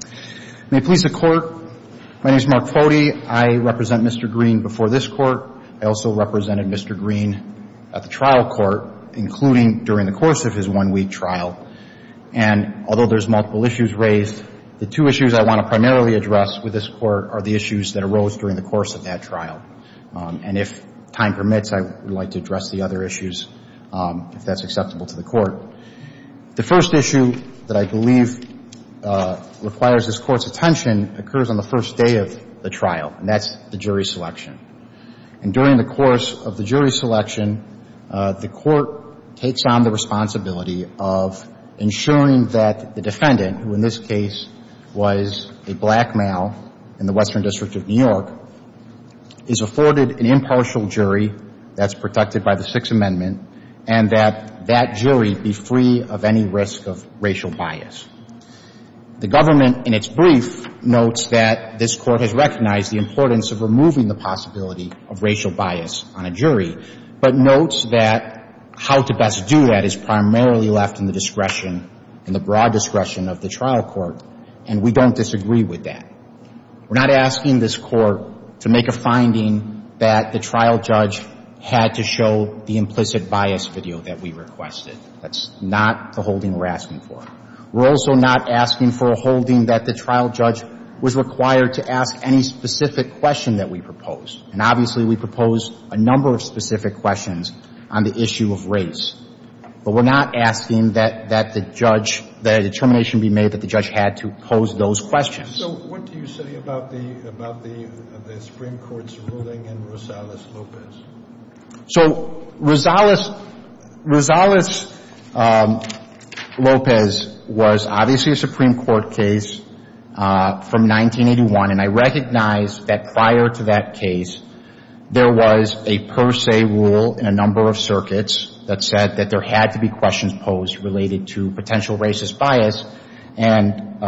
court. May it please the court, my name is Mark Foti. I represent Mr. Green before this court. I also represented Mr. Green at the trial court, including during the course of his one-week trial. And although there's multiple issues raised, the two issues I want to primarily address with this court are the issues that arose during the course of that trial. And if time permits, I would like to address the other issues if that's acceptable to the court. The first issue that I believe requires this court's attention occurs on the first day of the trial, and that's the jury selection. And during the course of the jury selection, the court takes on the responsibility of ensuring that the defendant, who in this case was a black male in the Western District of New York, is afforded an impartial jury that's protected by the Sixth Amendment, and that that jury be free of any risk of racial bias. The government, in its brief, notes that this court has recognized the importance of removing the possibility of racial bias on a jury, but notes that how to best do that is primarily left in the discretion, in the broad discretion of the trial court, and we don't disagree with that. We're not asking this the implicit bias video that we requested. That's not the holding we're asking for. We're also not asking for a holding that the trial judge was required to ask any specific question that we proposed. And obviously, we proposed a number of specific questions on the issue of race. But we're not asking that the judge, that a determination be made that the judge had to pose those questions. So what do you say about the Supreme Court's ruling in Rosales-Lopez? So Rosales-Lopez was obviously a Supreme Court case from 1981, and I recognize that prior to that case, there was a per se rule in a number of circuits that said that there had to be questions posed related to potential racist bias, and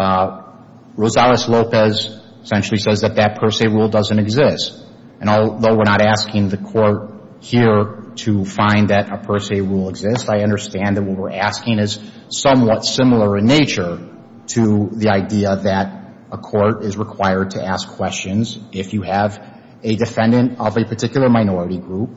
Rosales-Lopez essentially says that that per se rule doesn't exist. And though we're not asking the court here to find that a per se rule exists, I understand that what we're asking is somewhat similar in nature to the idea that a court is required to ask questions if you have a defendant of a particular minority group,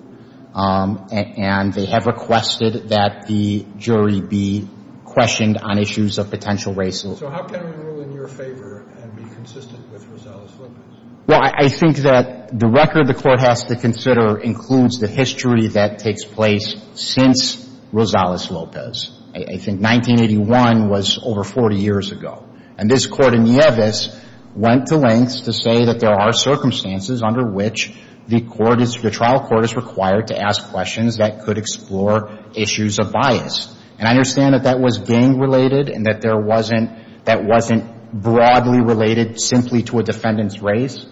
and they have requested that the jury be questioned on issues of potential racism. So how can we rule in your favor and be consistent with Rosales-Lopez? Well, I think that the record the court has to consider includes the history that takes place since Rosales-Lopez. I think 1981 was over 40 years ago. And this court in Nieves went to lengths to say that there are circumstances under which the court is, the trial court is required to ask questions that could explore issues of bias. And I understand that that was gang related and that there wasn't, that wasn't broadly related simply to a defendant's race.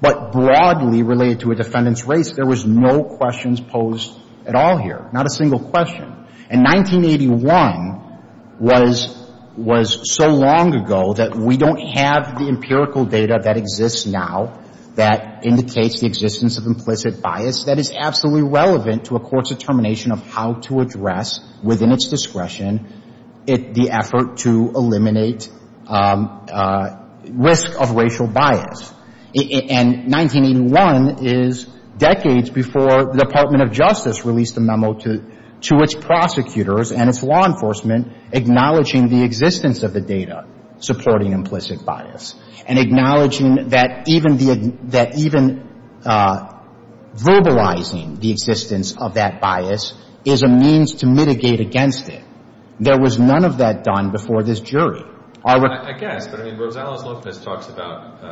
But broadly related to a defendant's race, there was no questions posed at all here, not a single question. And 1981 was so long ago that we don't have the empirical data that exists now that indicates the existence of implicit bias that is absolutely relevant to a court's determination of how to address within its discretion the effort to eliminate risk of racial bias. And 1981 is decades before the Department of Justice released a memo to its prosecutors and its law enforcement acknowledging the existence of the data supporting implicit bias and acknowledging that even verbalizing the existence of that bias is a means to mitigate against it. There was none of that done before this jury. I guess, but I mean, Rosales-Lopez talks about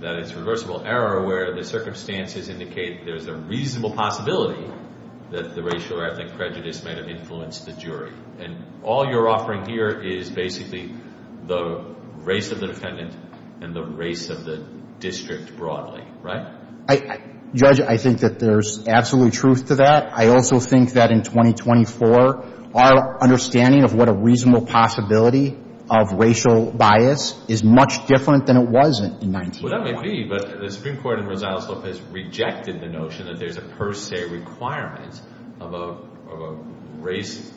that it's reversible error where the circumstances indicate there's a reasonable possibility that the racial or ethnic prejudice might have influenced the jury. And all you're offering here is basically the race of the defendant and the race of the defendant, right? I, Judge, I think that there's absolute truth to that. I also think that in 2024, our understanding of what a reasonable possibility of racial bias is much different than it was in 1981. Well, that may be, but the Supreme Court in Rosales-Lopez rejected the notion that there's a per se requirement of a race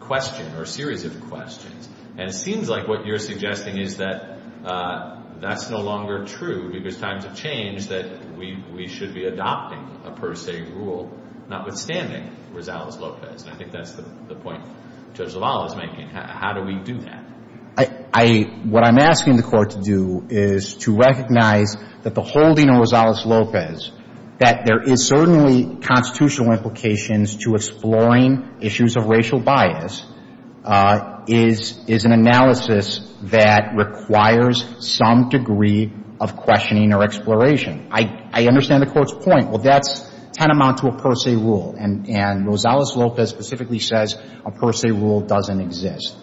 question or a series of questions. And it seems like what you're suggesting is that that's no longer true because times have changed that we should be adopting a per se rule, notwithstanding Rosales-Lopez. And I think that's the point Judge LaValle is making. How do we do that? I, what I'm asking the Court to do is to recognize that the holding of Rosales-Lopez, that there is certainly constitutional implications to exploring issues of racial bias, is an analysis that requires some degree of questioning or exploration. I, I understand the Court's point. Well, that's tantamount to a per se rule. And, and Rosales-Lopez specifically says a per se rule doesn't exist.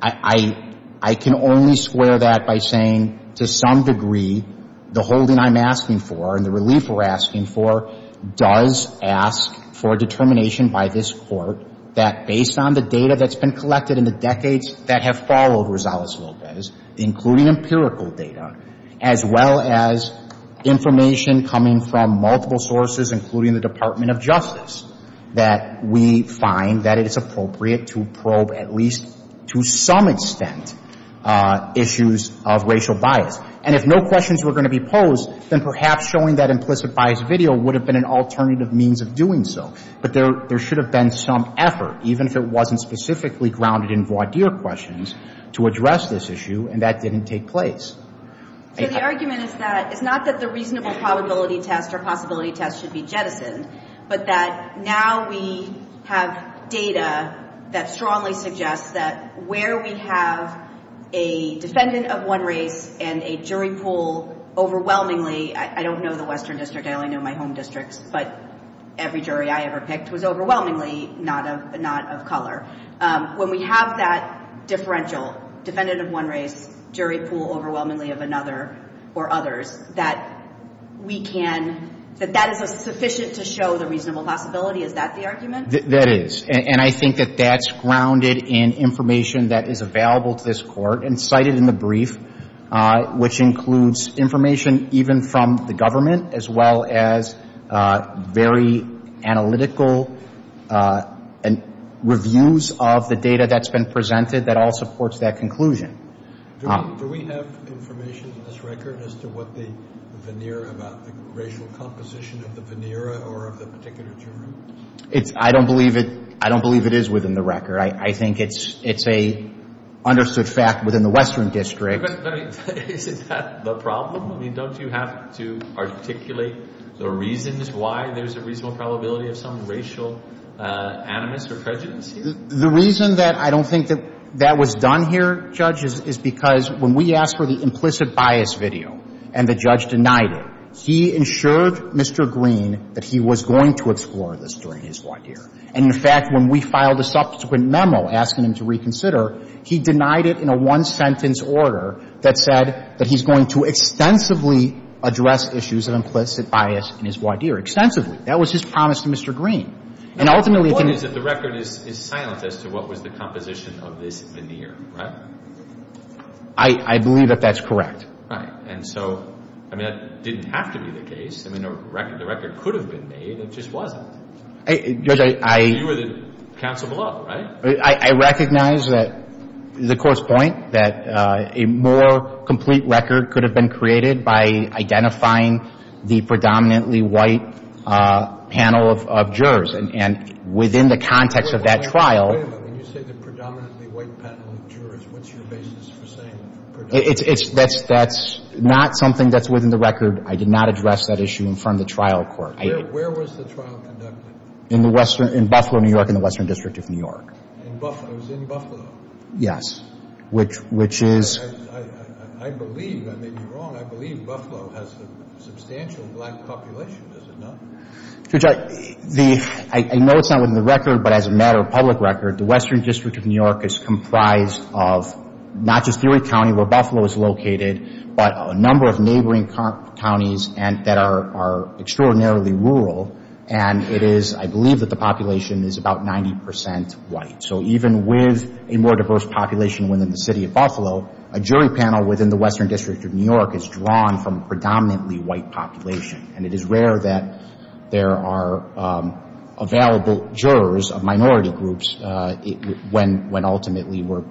I, I, I can only swear that by saying to some degree the holding I'm asking for and the relief we're asking for does ask for a determination by this Court that, based on the data that's been collected in the decades that have followed Rosales-Lopez, including empirical data, as well as information coming from multiple sources, including the Department of Justice, that we find that it is appropriate to probe, at least to some extent, issues of racial bias. And if no questions were going to be posed, then perhaps showing that implicit bias video would have been an alternative means of doing so. But there, there should have been some effort, even if it wasn't specifically grounded in voir dire questions, to address this issue, and that didn't take place. So the argument is that, it's not that the reasonable probability test or possibility test should be jettisoned, but that now we have data that strongly suggests that where we have a defendant of one race and a jury pool overwhelmingly, I don't know the western district, I only know my home districts, but every jury I ever picked was overwhelmingly not of, not of color. When we have that differential, defendant of one race, jury pool overwhelmingly of another or others, that we can, that that is sufficient to show the reasonable possibility, is that the argument? That is. And I think that that's grounded in information that is available to this Court and cited in the brief, which includes information even from the government, as well as very analytical reviews of the data that's been presented that all supports that conclusion. Do we have information in this record as to what the veneer about the racial composition of the veneer or of the particular jury? It's, I don't believe it, I don't believe it is within the record. I think it's, it's a understood fact within the western district. But, I mean, is that the problem? I mean, don't you have to articulate the reasons why there's a reasonable probability of some racial animus or prejudice here? The reason that I don't think that that was done here, Judge, is because when we asked for the implicit bias video and the judge denied it, he ensured Mr. Green that he was going to explore this during his voir dire. And, in fact, when we filed a subsequent memo asking him to reconsider, he denied it in a one-sentence order that said that he's going to extensively address issues of implicit bias in his voir dire. Extensively. That was his promise to Mr. Green. And ultimately, he can The point is that the record is, is silent as to what was the composition of this veneer, right? I, I believe that that's correct. Right. And so, I mean, that didn't have to be the case. I mean, the record, the record could have been made. It just wasn't. I, Judge, I You were the counsel below, right? I, I recognize that, the court's point, that a more complete record could have been created by identifying the predominantly white panel of, of jurors. And, and within the context of that trial Wait a minute, wait a minute. When you say the predominantly white panel of jurors, what's your basis for saying the predominantly white panel of jurors? It's, it's, that's, that's not something that's within the record. I did not address that issue in front of the trial court. I Where, where was the trial conducted? In the western, in Buffalo, New York, in the Western District of New York. In Buffalo, it was in Buffalo? Yes. Which, which is I, I, I believe, I may be wrong, I believe Buffalo has a substantial black population, does it not? Judge, I, the, I know it's not within the record, but as a matter of public record, the Western District of New York is comprised of not just Newark County, where Buffalo is located, but a number of neighboring counties and, that are, are extraordinarily rural. And it is, I believe that the population is about 90% white. So even with a more diverse population within the city of Buffalo, a jury panel within the Western District of New York is drawn from a predominantly white population. And it is rare that there are available jurors of minority groups when, when ultimately we're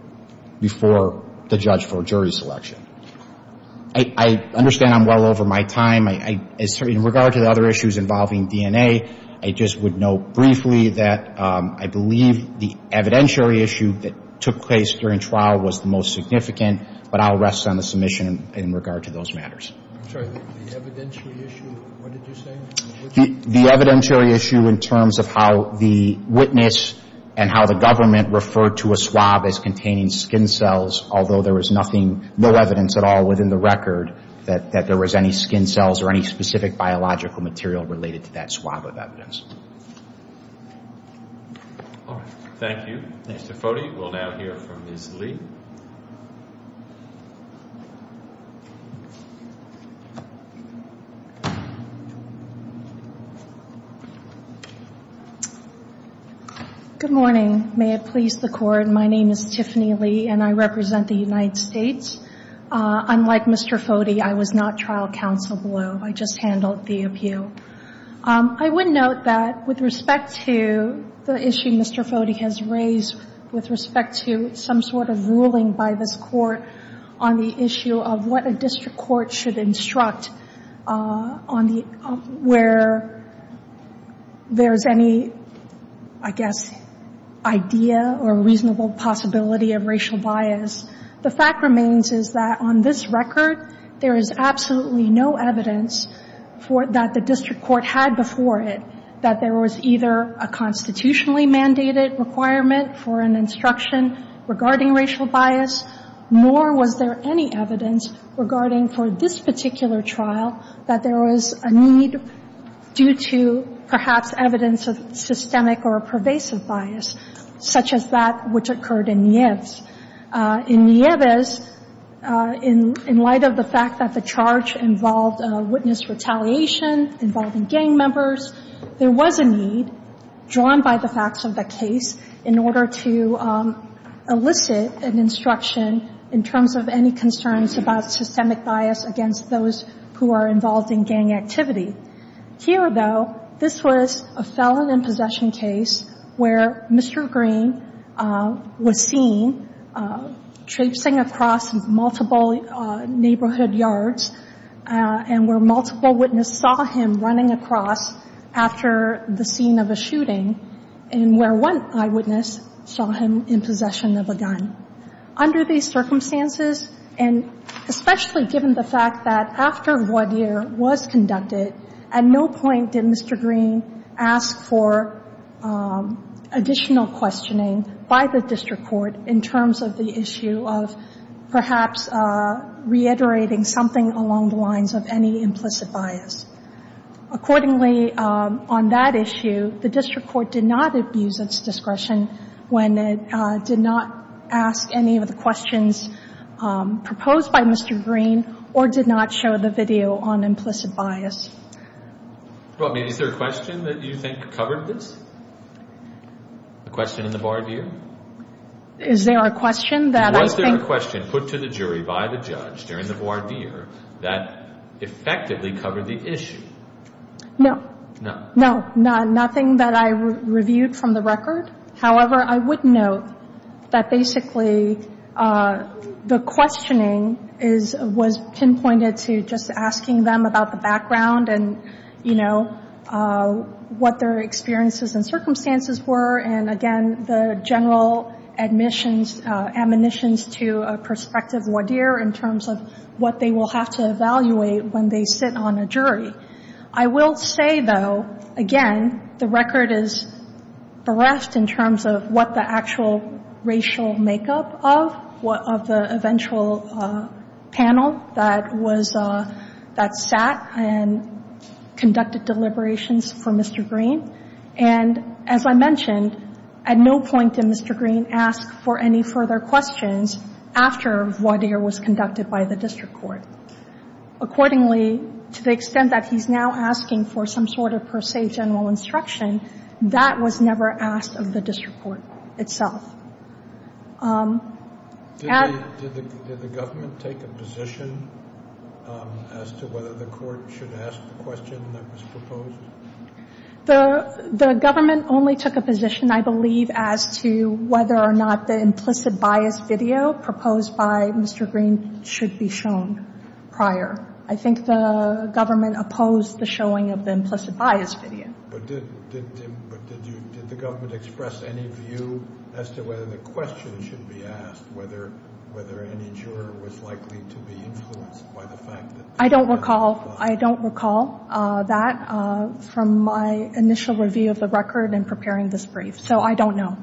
before the judge for a jury selection. I, I understand I'm well over my time. I, I, in regard to the other issues involving DNA, I just would note briefly that I believe the evidentiary issue that took place during trial was the most significant, but I'll rest on the submission in regard to those matters. I'm sorry, the evidentiary issue, what did you say? The, the evidentiary issue in terms of how the witness and how the government referred to a swab as containing skin cells, although there was nothing, no evidence at all within the record that, that there was any skin cells or any specific biological material related to that swab of evidence. All right. Thank you. Thanks, Mr. Foti. We'll now hear from Ms. Lee. Good morning. May it please the court. My name is Tiffany Lee and I represent the United States. Unlike Mr. Foti, I was not trial counsel below. I just handled the appeal. I would note that with respect to the issue Mr. Foti has raised with respect to some sort of ruling by this court on the issue of what a district court should instruct on the, where there's any, I guess, idea or reasonable possibility of racial bias. The fact remains is that on this record, there is absolutely no evidence for, that the district court had before it, that there was either a constitutionally mandated requirement for an instruction regarding racial bias, nor was there any evidence regarding for this particular trial that there was a need due to perhaps evidence of systemic or a pervasive bias such as that which occurred in Nieves. In Nieves, in light of the fact that the charge involved witness retaliation, involving gang members, there was a need, drawn by the facts of the case, in order to elicit an instruction in terms of any concerns about systemic bias against those who are involved in gang activity. Here, though, this was a felon in possession case where Mr. Green was seen traipsing across multiple neighborhood yards and where multiple witnesses saw him running across the street after the scene of a shooting and where one eyewitness saw him in possession of a gun. Under these circumstances, and especially given the fact that after voir dire was conducted, at no point did Mr. Green ask for additional questioning by the district court in terms of the issue of perhaps reiterating something along the lines of any implicit bias. Accordingly, on that issue, the district court did not abuse its discretion when it did not ask any of the questions proposed by Mr. Green or did not show the video on implicit bias. Well, is there a question that you think covered this? A question in the voir dire? Is there a question that I think... No, no, nothing that I reviewed from the record. However, I would note that basically the questioning was pinpointed to just asking them about the background and, you know, what their experiences and circumstances were. And again, the general admissions, admonitions to a prospective voir dire in terms of what they will have to evaluate when they sit on a jury. I will say, though, again, the record is bereft in terms of what the actual racial makeup of the eventual panel that sat and conducted deliberations for Mr. Green. And as I mentioned, at no point did Mr. Green ask for any further questions after voir dire was conducted by the district court. Accordingly, to the extent that he's now asking for some sort of per se general instruction, that was never asked of the district court itself. Did the government take a position as to whether the court should ask the question that was proposed? The government only took a position, I believe, as to whether or not the implicit bias video proposed by Mr. Green should be shown. Prior, I think the government opposed the showing of the implicit bias video. But did the government express any view as to whether the question should be asked, whether any juror was likely to be influenced by the fact that? I don't recall. I don't recall that from my initial review of the record and preparing this brief. So I don't know.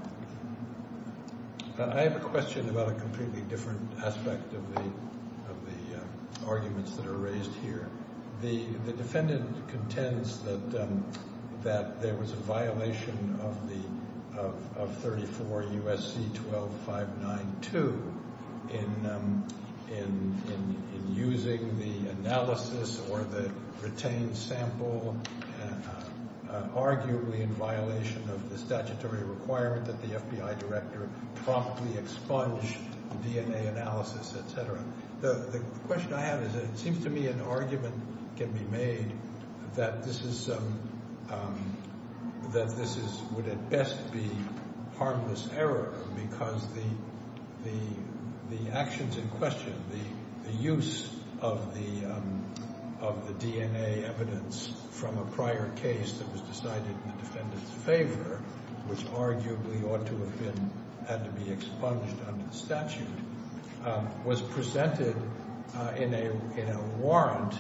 I have a question about a completely different aspect of the of the arguments that are raised here. The defendant contends that that there was a violation of the of 34 U.S.C. 12 5 9 2 in in in using the analysis or the retained sample, arguably in violation of the statutory requirement that the FBI director promptly expunge the DNA analysis, et cetera. The question I have is it seems to me an argument can be made that this is that this is would at best be harmless error because the the the actions in question, the use of the of the DNA evidence from a prior case that was decided in the defendant's favor, which arguably ought to have been had to be expunged under the statute was presented in a in a warrant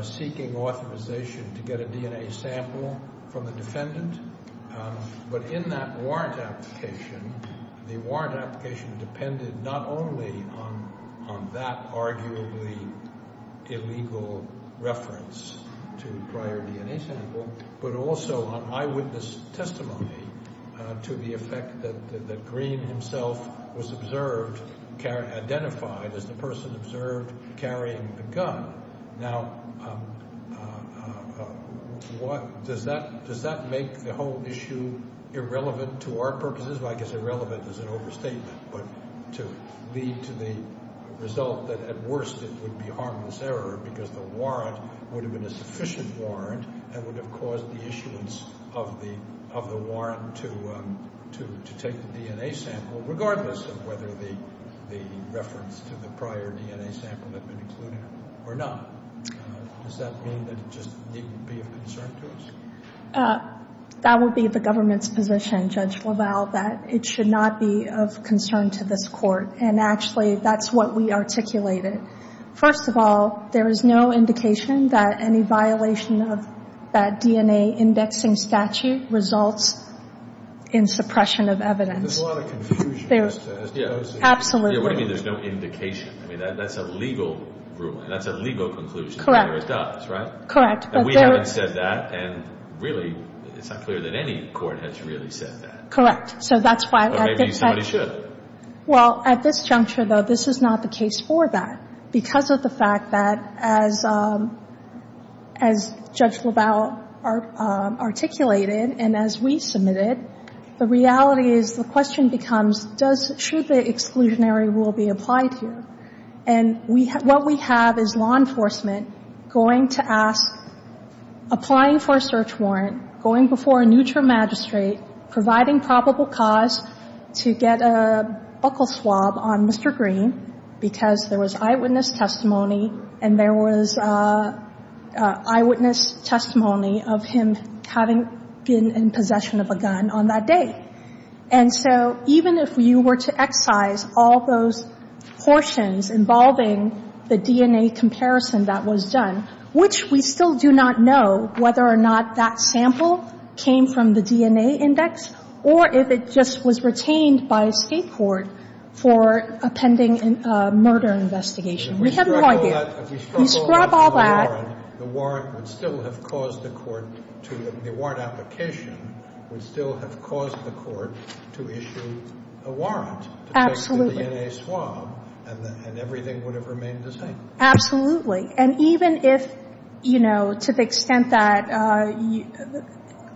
seeking authorization to get a DNA sample from the defendant. But in that warrant application, the warrant application depended not only on on that arguably illegal reference to prior DNA sample, but also on eyewitness testimony to the effect that the Green himself was observed, identified as the person observed carrying the gun. Now, what does that does that make the whole issue irrelevant to our purposes? I guess irrelevant is an overstatement, but to lead to the result that at worst, it would be harmless error because the warrant would have been a sufficient warrant that would have caused the issuance of the of the warrant to to to take the DNA sample, regardless of whether the the reference to the prior DNA sample had been included or not, does that mean that it just didn't be of concern to us? That would be the government's position, Judge LaValle, that it should not be of concern to this court. And actually, that's what we articulated. First of all, there is no indication that any violation of that DNA indexing statute results in suppression of evidence. There's a lot of confusion. There's absolutely no indication. I mean, that's a legal ruling. That's a legal conclusion. Correct. It does, right? Correct. But we haven't said that. And really, it's not clear that any court has really said that. Correct. So that's why. Maybe somebody should. Well, at this juncture, though, this is not the case for that because of the fact that as as Judge LaValle articulated and as we submitted, the reality is the question becomes, does, should the exclusionary rule be applied here? And what we have is law enforcement going to ask, applying for a search warrant, going before a neutral magistrate, providing probable cause to get a buckle swab on Mr. Green because there was eyewitness testimony and there was eyewitness testimony of him having been in possession of a gun. On that day. And so even if you were to excise all those portions involving the DNA comparison that was done, which we still do not know whether or not that sample came from the DNA index or if it just was retained by a state court for a pending murder investigation. We have no idea. But if we scrub all that, the warrant would still have caused the court to, the warrant application would still have caused the court to issue a warrant to take the DNA swab and everything would have remained the same. Absolutely. And even if, you know, to the extent that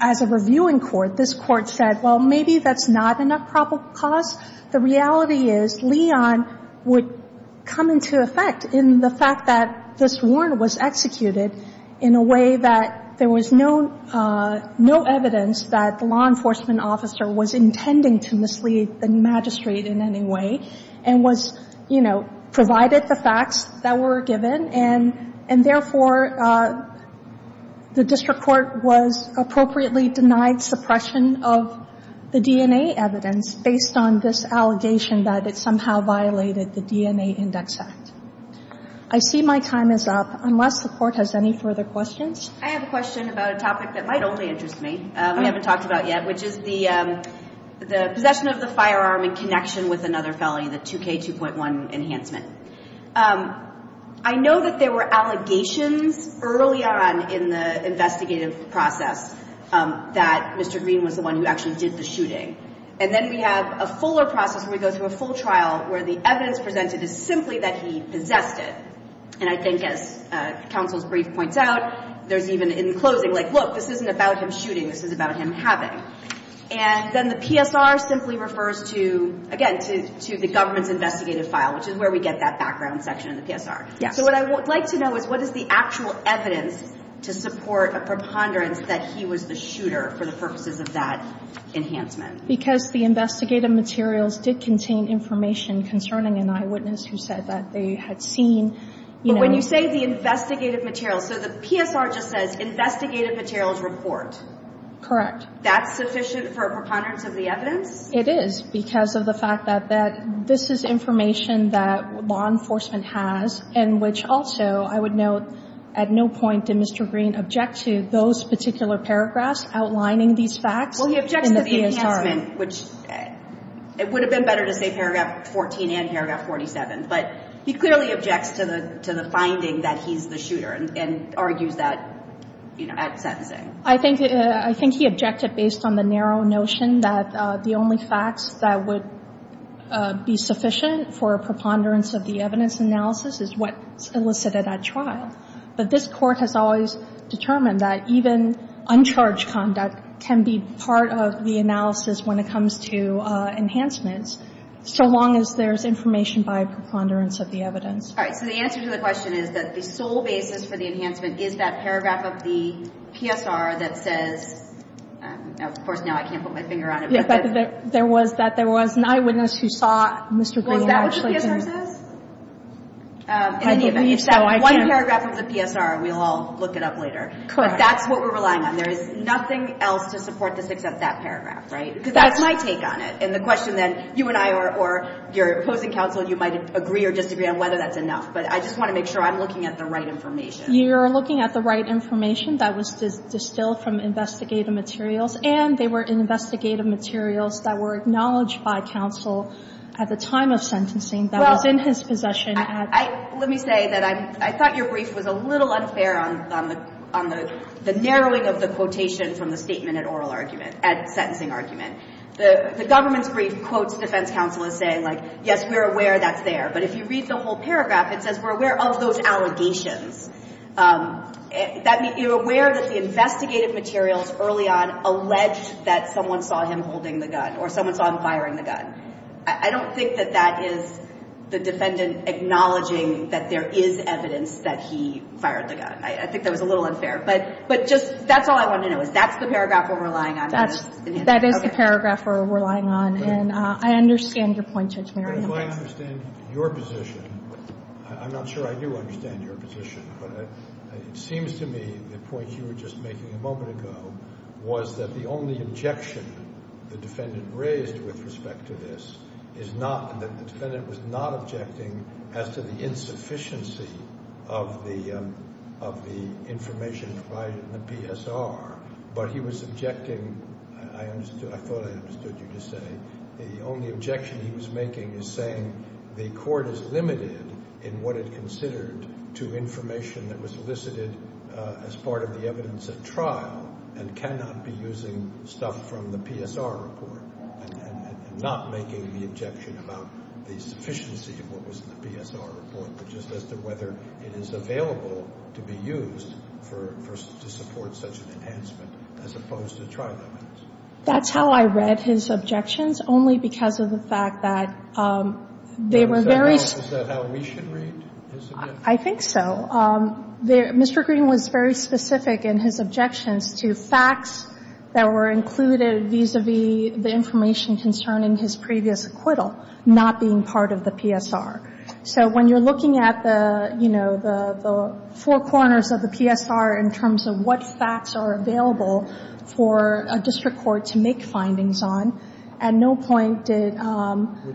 as a reviewing court, this court said, well, maybe that's not enough probable cause. The reality is Leon would come into effect in the fact that this warrant was executed in a way that there was no, no evidence that the law enforcement officer was intending to mislead the magistrate in any way and was, you know, provided the facts that were given. And, and therefore, the district court was appropriately denied suppression of the DNA evidence based on this allegation that it somehow violated the DNA index act. I see my time is up unless the court has any further questions. I have a question about a topic that might only interest me. We haven't talked about yet, which is the, the possession of the firearm in connection with another felony, the 2K2.1 enhancement. I know that there were allegations early on in the investigative process that Mr. Green was the one who actually did the shooting. And then we have a fuller process where we go through a full trial where the evidence presented is simply that he possessed it. And I think as counsel's brief points out, there's even in closing, like, look, this isn't about him shooting. This is about him having. And then the PSR simply refers to, again, to, to the government's investigative file, which is where we get that background section of the PSR. Yeah. So what I would like to know is what is the actual evidence to support a preponderance that he was the shooter for the purposes of that enhancement? Because the investigative materials did contain information concerning an eyewitness who said that they had seen, you know. When you say the investigative materials, so the PSR just says investigative materials report. Correct. That's sufficient for a preponderance of the evidence? It is because of the fact that, that this is information that law enforcement has and which also I would note at no point did Mr. Green object to those particular paragraphs outlining these facts. Well, he objects to the enhancement, which it would have been better to say paragraph 14 and paragraph 47. But he clearly objects to the, to the finding that he's the shooter and argues that, you know, at sentencing. I think, I think he objected based on the narrow notion that the only facts that would be sufficient for a preponderance of the evidence analysis is what's elicited at trial. But this court has always determined that even uncharged conduct can be part of the analysis when it comes to enhancements, so long as there's information by preponderance of the evidence. All right, so the answer to the question is that the sole basis for the enhancement is that paragraph of the PSR that says, of course, now I can't put my finger on it, but that there was, that there was an eyewitness who saw Mr. Green actually. Well, is that what the PSR says? In any event, if that one paragraph of the PSR, we'll all look it up later. Correct. But that's what we're relying on. There is nothing else to support this except that paragraph, right? That's my take on it. And the question then, you and I, or your opposing counsel, you might agree or disagree on whether that's enough, but I just want to make sure I'm looking at the right information. You're looking at the right information that was distilled from investigative materials, and they were investigative materials that were acknowledged by counsel at the time of sentencing that was in his possession at. I, let me say that I, I thought your brief was a little unfair on, on the, on the, the narrowing of the quotation from the statement at oral argument, at sentencing argument. The, the government's brief quotes defense counsel as saying like, yes, we're aware that's there. But if you read the whole paragraph, it says we're aware of those allegations. That means you're aware that the investigative materials early on alleged that someone saw him holding the gun or someone saw him firing the gun. I don't think that that is the defendant acknowledging that there is evidence that he fired the gun. I think that was a little unfair. But, but just, that's all I want to know is that's the paragraph we're relying on. That's, that is the paragraph we're relying on. And I understand your point Judge Merriam. If I understand your position, I'm not sure I do understand your position, but it seems to me the point you were just making a moment ago was that the only objection the defendant raised with respect to this is not, that the defendant was not objecting as to the insufficiency of the, of the information provided in the PSR. But he was objecting, I understood, I thought I understood you to say, the only objection he was making is saying the court is limited in what it considered to information that was elicited as part of the evidence at trial and cannot be using stuff from the PSR report and not making the objection about the sufficiency of what was in the PSR report. Which is as to whether it is available to be used for, for, to support such an enhancement as opposed to trial evidence. That's how I read his objections, only because of the fact that they were very. Is that how we should read this again? I think so. Mr. Green was very specific in his objections to facts that were included vis-a-vis the information concerning his previous acquittal not being part of the PSR. So when you're looking at the, you know, the, the four corners of the PSR in terms of what facts are available for a district court to make findings on, at no point did.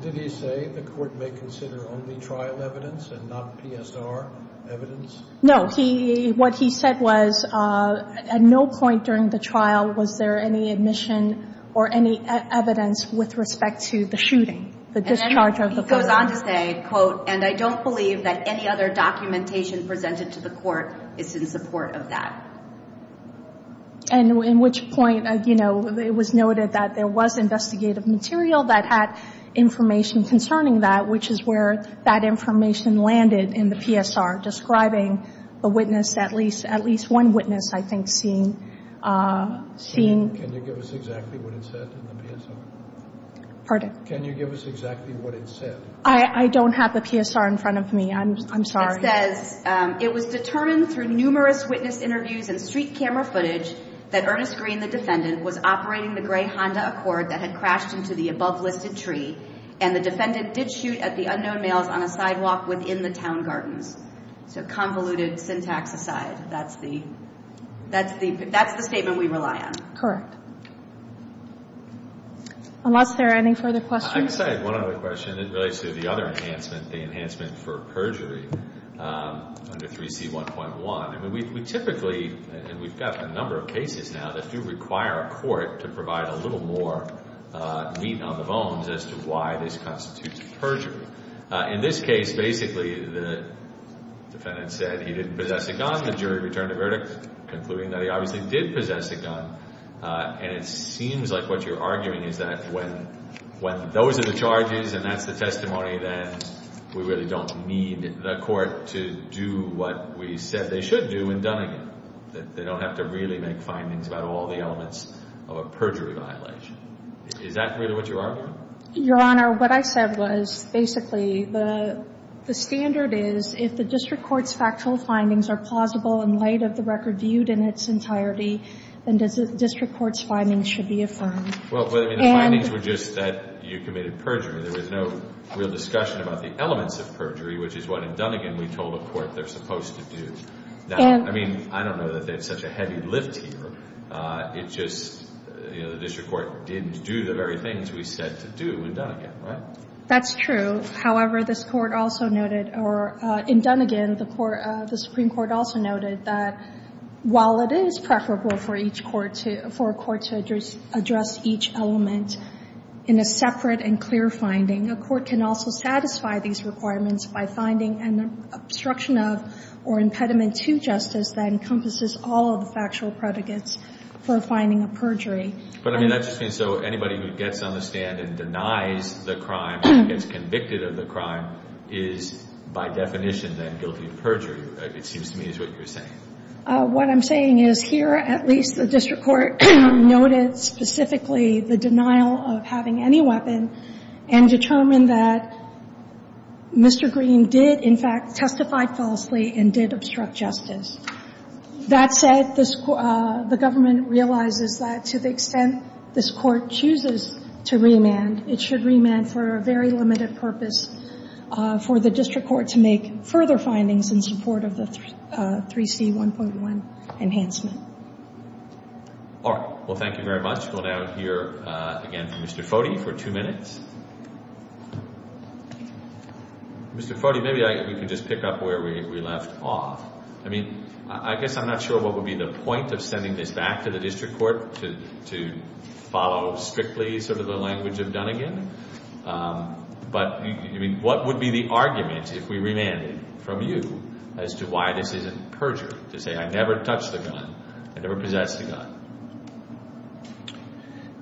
Did he say the court may consider only trial evidence and not PSR evidence? No, he, what he said was, at no point during the trial was there any admission or any evidence with respect to the shooting, the discharge of the. Goes on to say, quote, and I don't believe that any other documentation presented to the court is in support of that. And in which point, you know, it was noted that there was investigative material that had information concerning that, which is where that information landed in the PSR describing a witness, at least, at least one witness, I think, seen, seen. Can you give us exactly what it said in the PSR? Pardon? Can you give us exactly what it said? I don't have the PSR in front of me. I'm, I'm sorry. It says, it was determined through numerous witness interviews and street camera footage that Ernest Green, the defendant, was operating the gray Honda Accord that had crashed into the above listed tree. And the defendant did shoot at the unknown males on a sidewalk within the town gardens. So convoluted syntax aside, that's the, that's the, that's the statement we rely on. Correct. Unless there are any further questions. I have one other question. It relates to the other enhancement, the enhancement for perjury under 3C1.1. I mean, we typically, and we've got a number of cases now that do require a court to provide a little more meat on the bones as to why this constitutes perjury. In this case, basically, the defendant said he didn't possess a gun. The jury returned a verdict concluding that he obviously did possess a gun. And it seems like what you're arguing is that when, when those are the charges and that's the testimony, then we really don't need the court to do what we said they should do in Dunningham. That they don't have to really make findings about all the elements of a perjury violation. Is that really what you're arguing? Your Honor, what I said was, basically, the standard is if the district court's factual findings are plausible in light of the record viewed in its entirety. Then district court's findings should be affirmed. Well, the findings were just that you committed perjury. There was no real discussion about the elements of perjury, which is what in Dunningham we told the court they're supposed to do. Now, I mean, I don't know that they have such a heavy lift here. It's just the district court didn't do the very things we said to do in Dunningham, right? That's true. However, this court also noted, or in Dunningham, the Supreme Court also noted that while it is preferable for a court to address each element in a separate and clear finding. A court can also satisfy these requirements by finding an obstruction of or for finding a perjury. But, I mean, that just means so anybody who gets on the stand and denies the crime and gets convicted of the crime is, by definition, then guilty of perjury, it seems to me is what you're saying. What I'm saying is here, at least, the district court noted specifically the denial of having any weapon and determined that Mr. Green did, in fact, testify falsely and did obstruct justice. That said, the government realizes that to the extent this court chooses to remand, it should remand for a very limited purpose for the district court to make further findings in support of the 3C1.1 enhancement. All right. Well, thank you very much. We'll now hear again from Mr. Foti for two minutes. Mr. Foti, maybe we can just pick up where we left off. I mean, I guess I'm not sure what would be the point of sending this back to the district court to follow strictly sort of the language of Dunnegan. But, I mean, what would be the argument, if we remanded from you, as to why this isn't perjury, to say I never touched the gun, I never possessed the gun?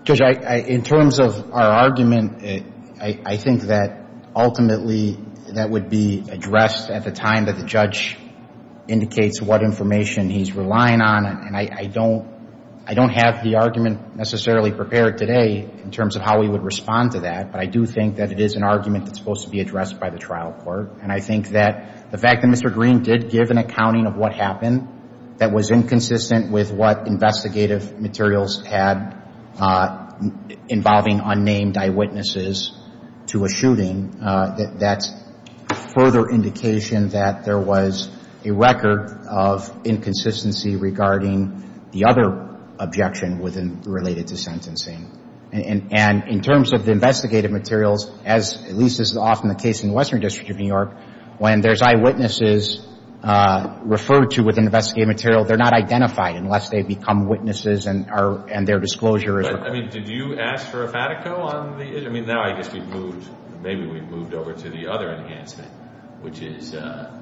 Judge, in terms of our argument, I think that ultimately that would be addressed at the time that the judge indicates what information he's relying on. And I don't have the argument necessarily prepared today in terms of how we would respond to that. But I do think that it is an argument that's supposed to be addressed by the trial court. And I think that the fact that Mr. Green did give an accounting of what happened that was inconsistent with what investigative materials had involving unnamed eyewitnesses to a shooting, that's further indication that there was a record of inconsistency regarding the other objection related to sentencing. And in terms of the investigative materials, as at least is often the case in the Western District of New York, when there's eyewitnesses referred to with investigative material, they're not identified unless they become witnesses and their disclosure is recorded. But, I mean, did you ask for a FATICO on the, I mean, now I guess we've moved, maybe we've moved over to the other enhancement, which is a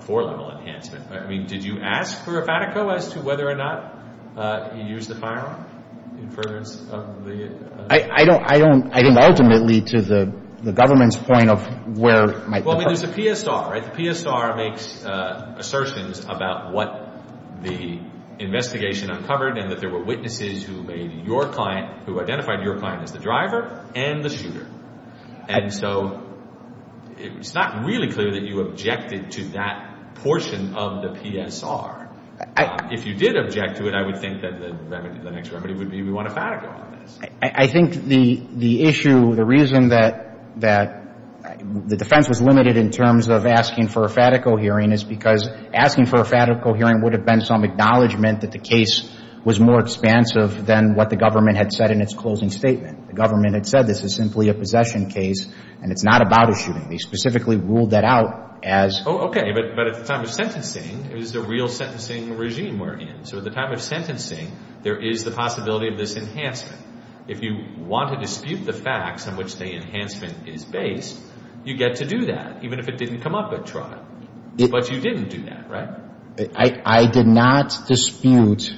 four-level enhancement. I mean, did you ask for a FATICO as to whether or not you used the firearm in furtherance of the? I don't, I don't, I think ultimately to the government's point of where might the. Well, I mean, there's a PSR, right? The PSR makes assertions about what the investigation uncovered and that there were witnesses who made your client, who identified your client as the driver and the shooter. And so it's not really clear that you objected to that portion of the PSR. If you did object to it, I would think that the next remedy would be we want a FATICO on this. I think the issue, the reason that the defense was limited in terms of asking for a FATICO hearing is because asking for a FATICO hearing would have been some acknowledgment that the case was more expansive than what the government had said in its closing statement. The government had said this is simply a possession case and it's not about a shooting. They specifically ruled that out as. Oh, okay. But at the time of sentencing, it was the real sentencing regime we're in. So at the time of sentencing, there is the possibility of this enhancement. If you want to dispute the facts on which the enhancement is based, you get to do that, even if it didn't come up at trial. But you didn't do that, right? I did not dispute,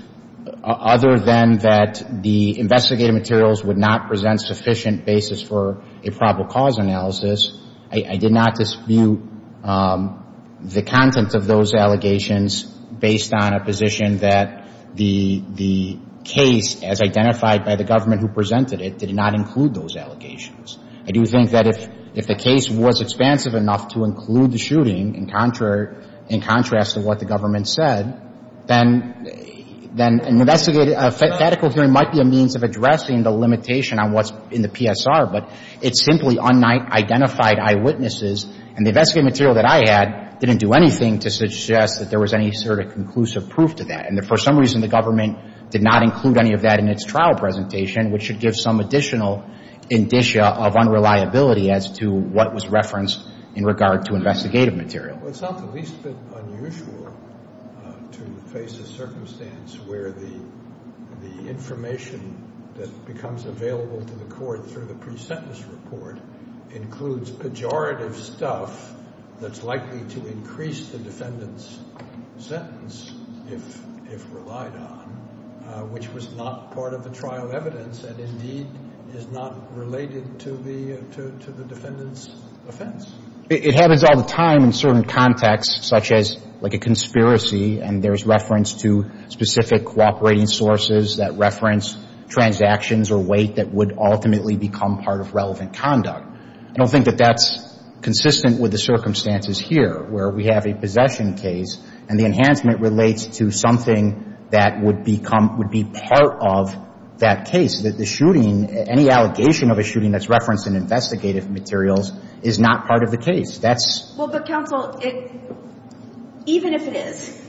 other than that the investigative materials would not present sufficient basis for a probable cause analysis, I did not dispute the content of those allegations based on a position that the case, as identified by the government who presented it, did not include those allegations. I do think that if the case was expansive enough to include the shooting, in contrast to what the government said, then an investigative, a FATICO hearing might be a means of addressing the limitation on what's in the PSR. But it simply unidentified eyewitnesses, and the investigative material that I had didn't do anything to suggest that there was any sort of conclusive proof to that. And for some reason, the government did not include any of that in its trial presentation, which should give some additional indicia of unreliability as to what was referenced in regard to investigative material. It's not the least bit unusual to face a circumstance where the information that becomes available to the court through the pre-sentence report includes pejorative stuff that's likely to increase the defendant's sentence, if relied on, which was not part of the trial evidence, and indeed is not related to the defendant's offense. It happens all the time in certain contexts, such as, like, a conspiracy, and there's reference to specific cooperating sources that reference transactions or weight that would ultimately become part of relevant conduct. I don't think that that's consistent with the circumstances here, where we have a possession case, and the enhancement relates to something that would become – would be part of that case, that the shooting – any allegation of a shooting that's referenced in investigative materials is not part of the case. That's – Well, but, counsel, it – even if it is,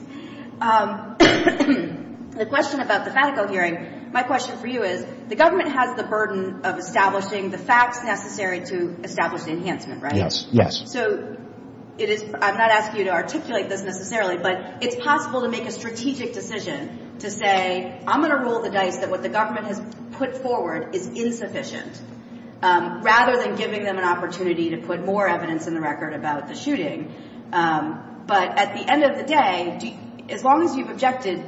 the question about the Fatico hearing, my question for you is, the government has the burden of establishing the facts necessary to establish the enhancement, right? Yes. Yes. So it is – I'm not asking you to articulate this necessarily, but it's possible to make a strategic decision to say, I'm going to roll the dice that what the government has put forward is insufficient, rather than giving them an opportunity to put more evidence in the record about the shooting. But at the end of the day, as long as you've objected,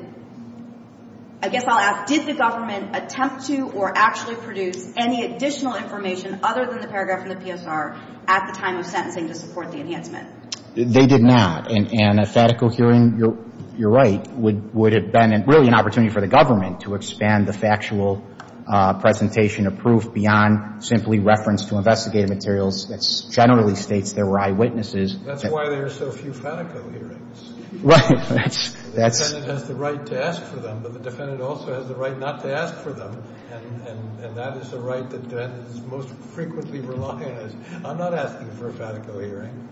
I guess I'll ask, did the government attempt to or actually produce any additional information other than the paragraph from the PSR at the time of sentencing to support the enhancement? They did not. And a Fatico hearing, you're right, would have been really an opportunity for the government to expand the factual presentation of proof beyond simply reference to investigative materials that generally states there were eyewitnesses. That's why there are so few Fatico hearings. Right. That's – The defendant has the right to ask for them, but the defendant also has the right not to ask for them. And that is the right that the defendant is most frequently reliant on. I'm not asking for a Fatico hearing.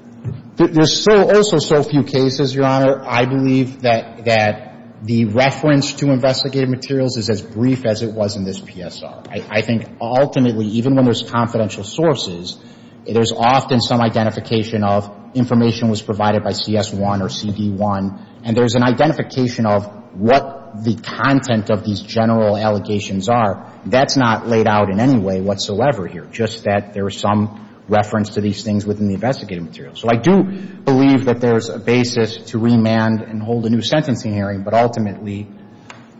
There's also so few cases, Your Honor, I believe that the reference to investigative materials is as brief as it was in this PSR. I think ultimately, even when there's confidential sources, there's often some identification of information was provided by CS1 or CD1, and there's an identification of what the content of these general allegations are. That's not laid out in any way whatsoever here, just that there is some reference to these things within the investigative material. So I do believe that there's a basis to remand and hold a new sentencing hearing, but ultimately,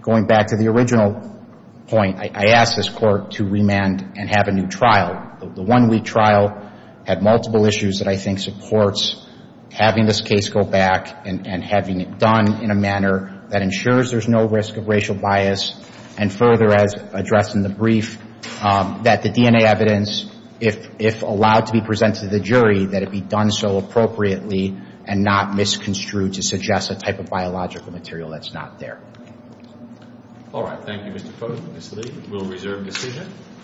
going back to the original point, I ask this Court to remand and have a new trial. The one-week trial had multiple issues that I think supports having this case go back and having it done in a manner that ensures there's no risk of racial bias, and further, as addressed in the brief, that the DNA evidence, if allowed to be presented to the jury, that it be done so appropriately and not misconstrued to suggest a type of biological material that's not there. All right. Thank you, Mr. Foote. Ms. Lee will reserve decision.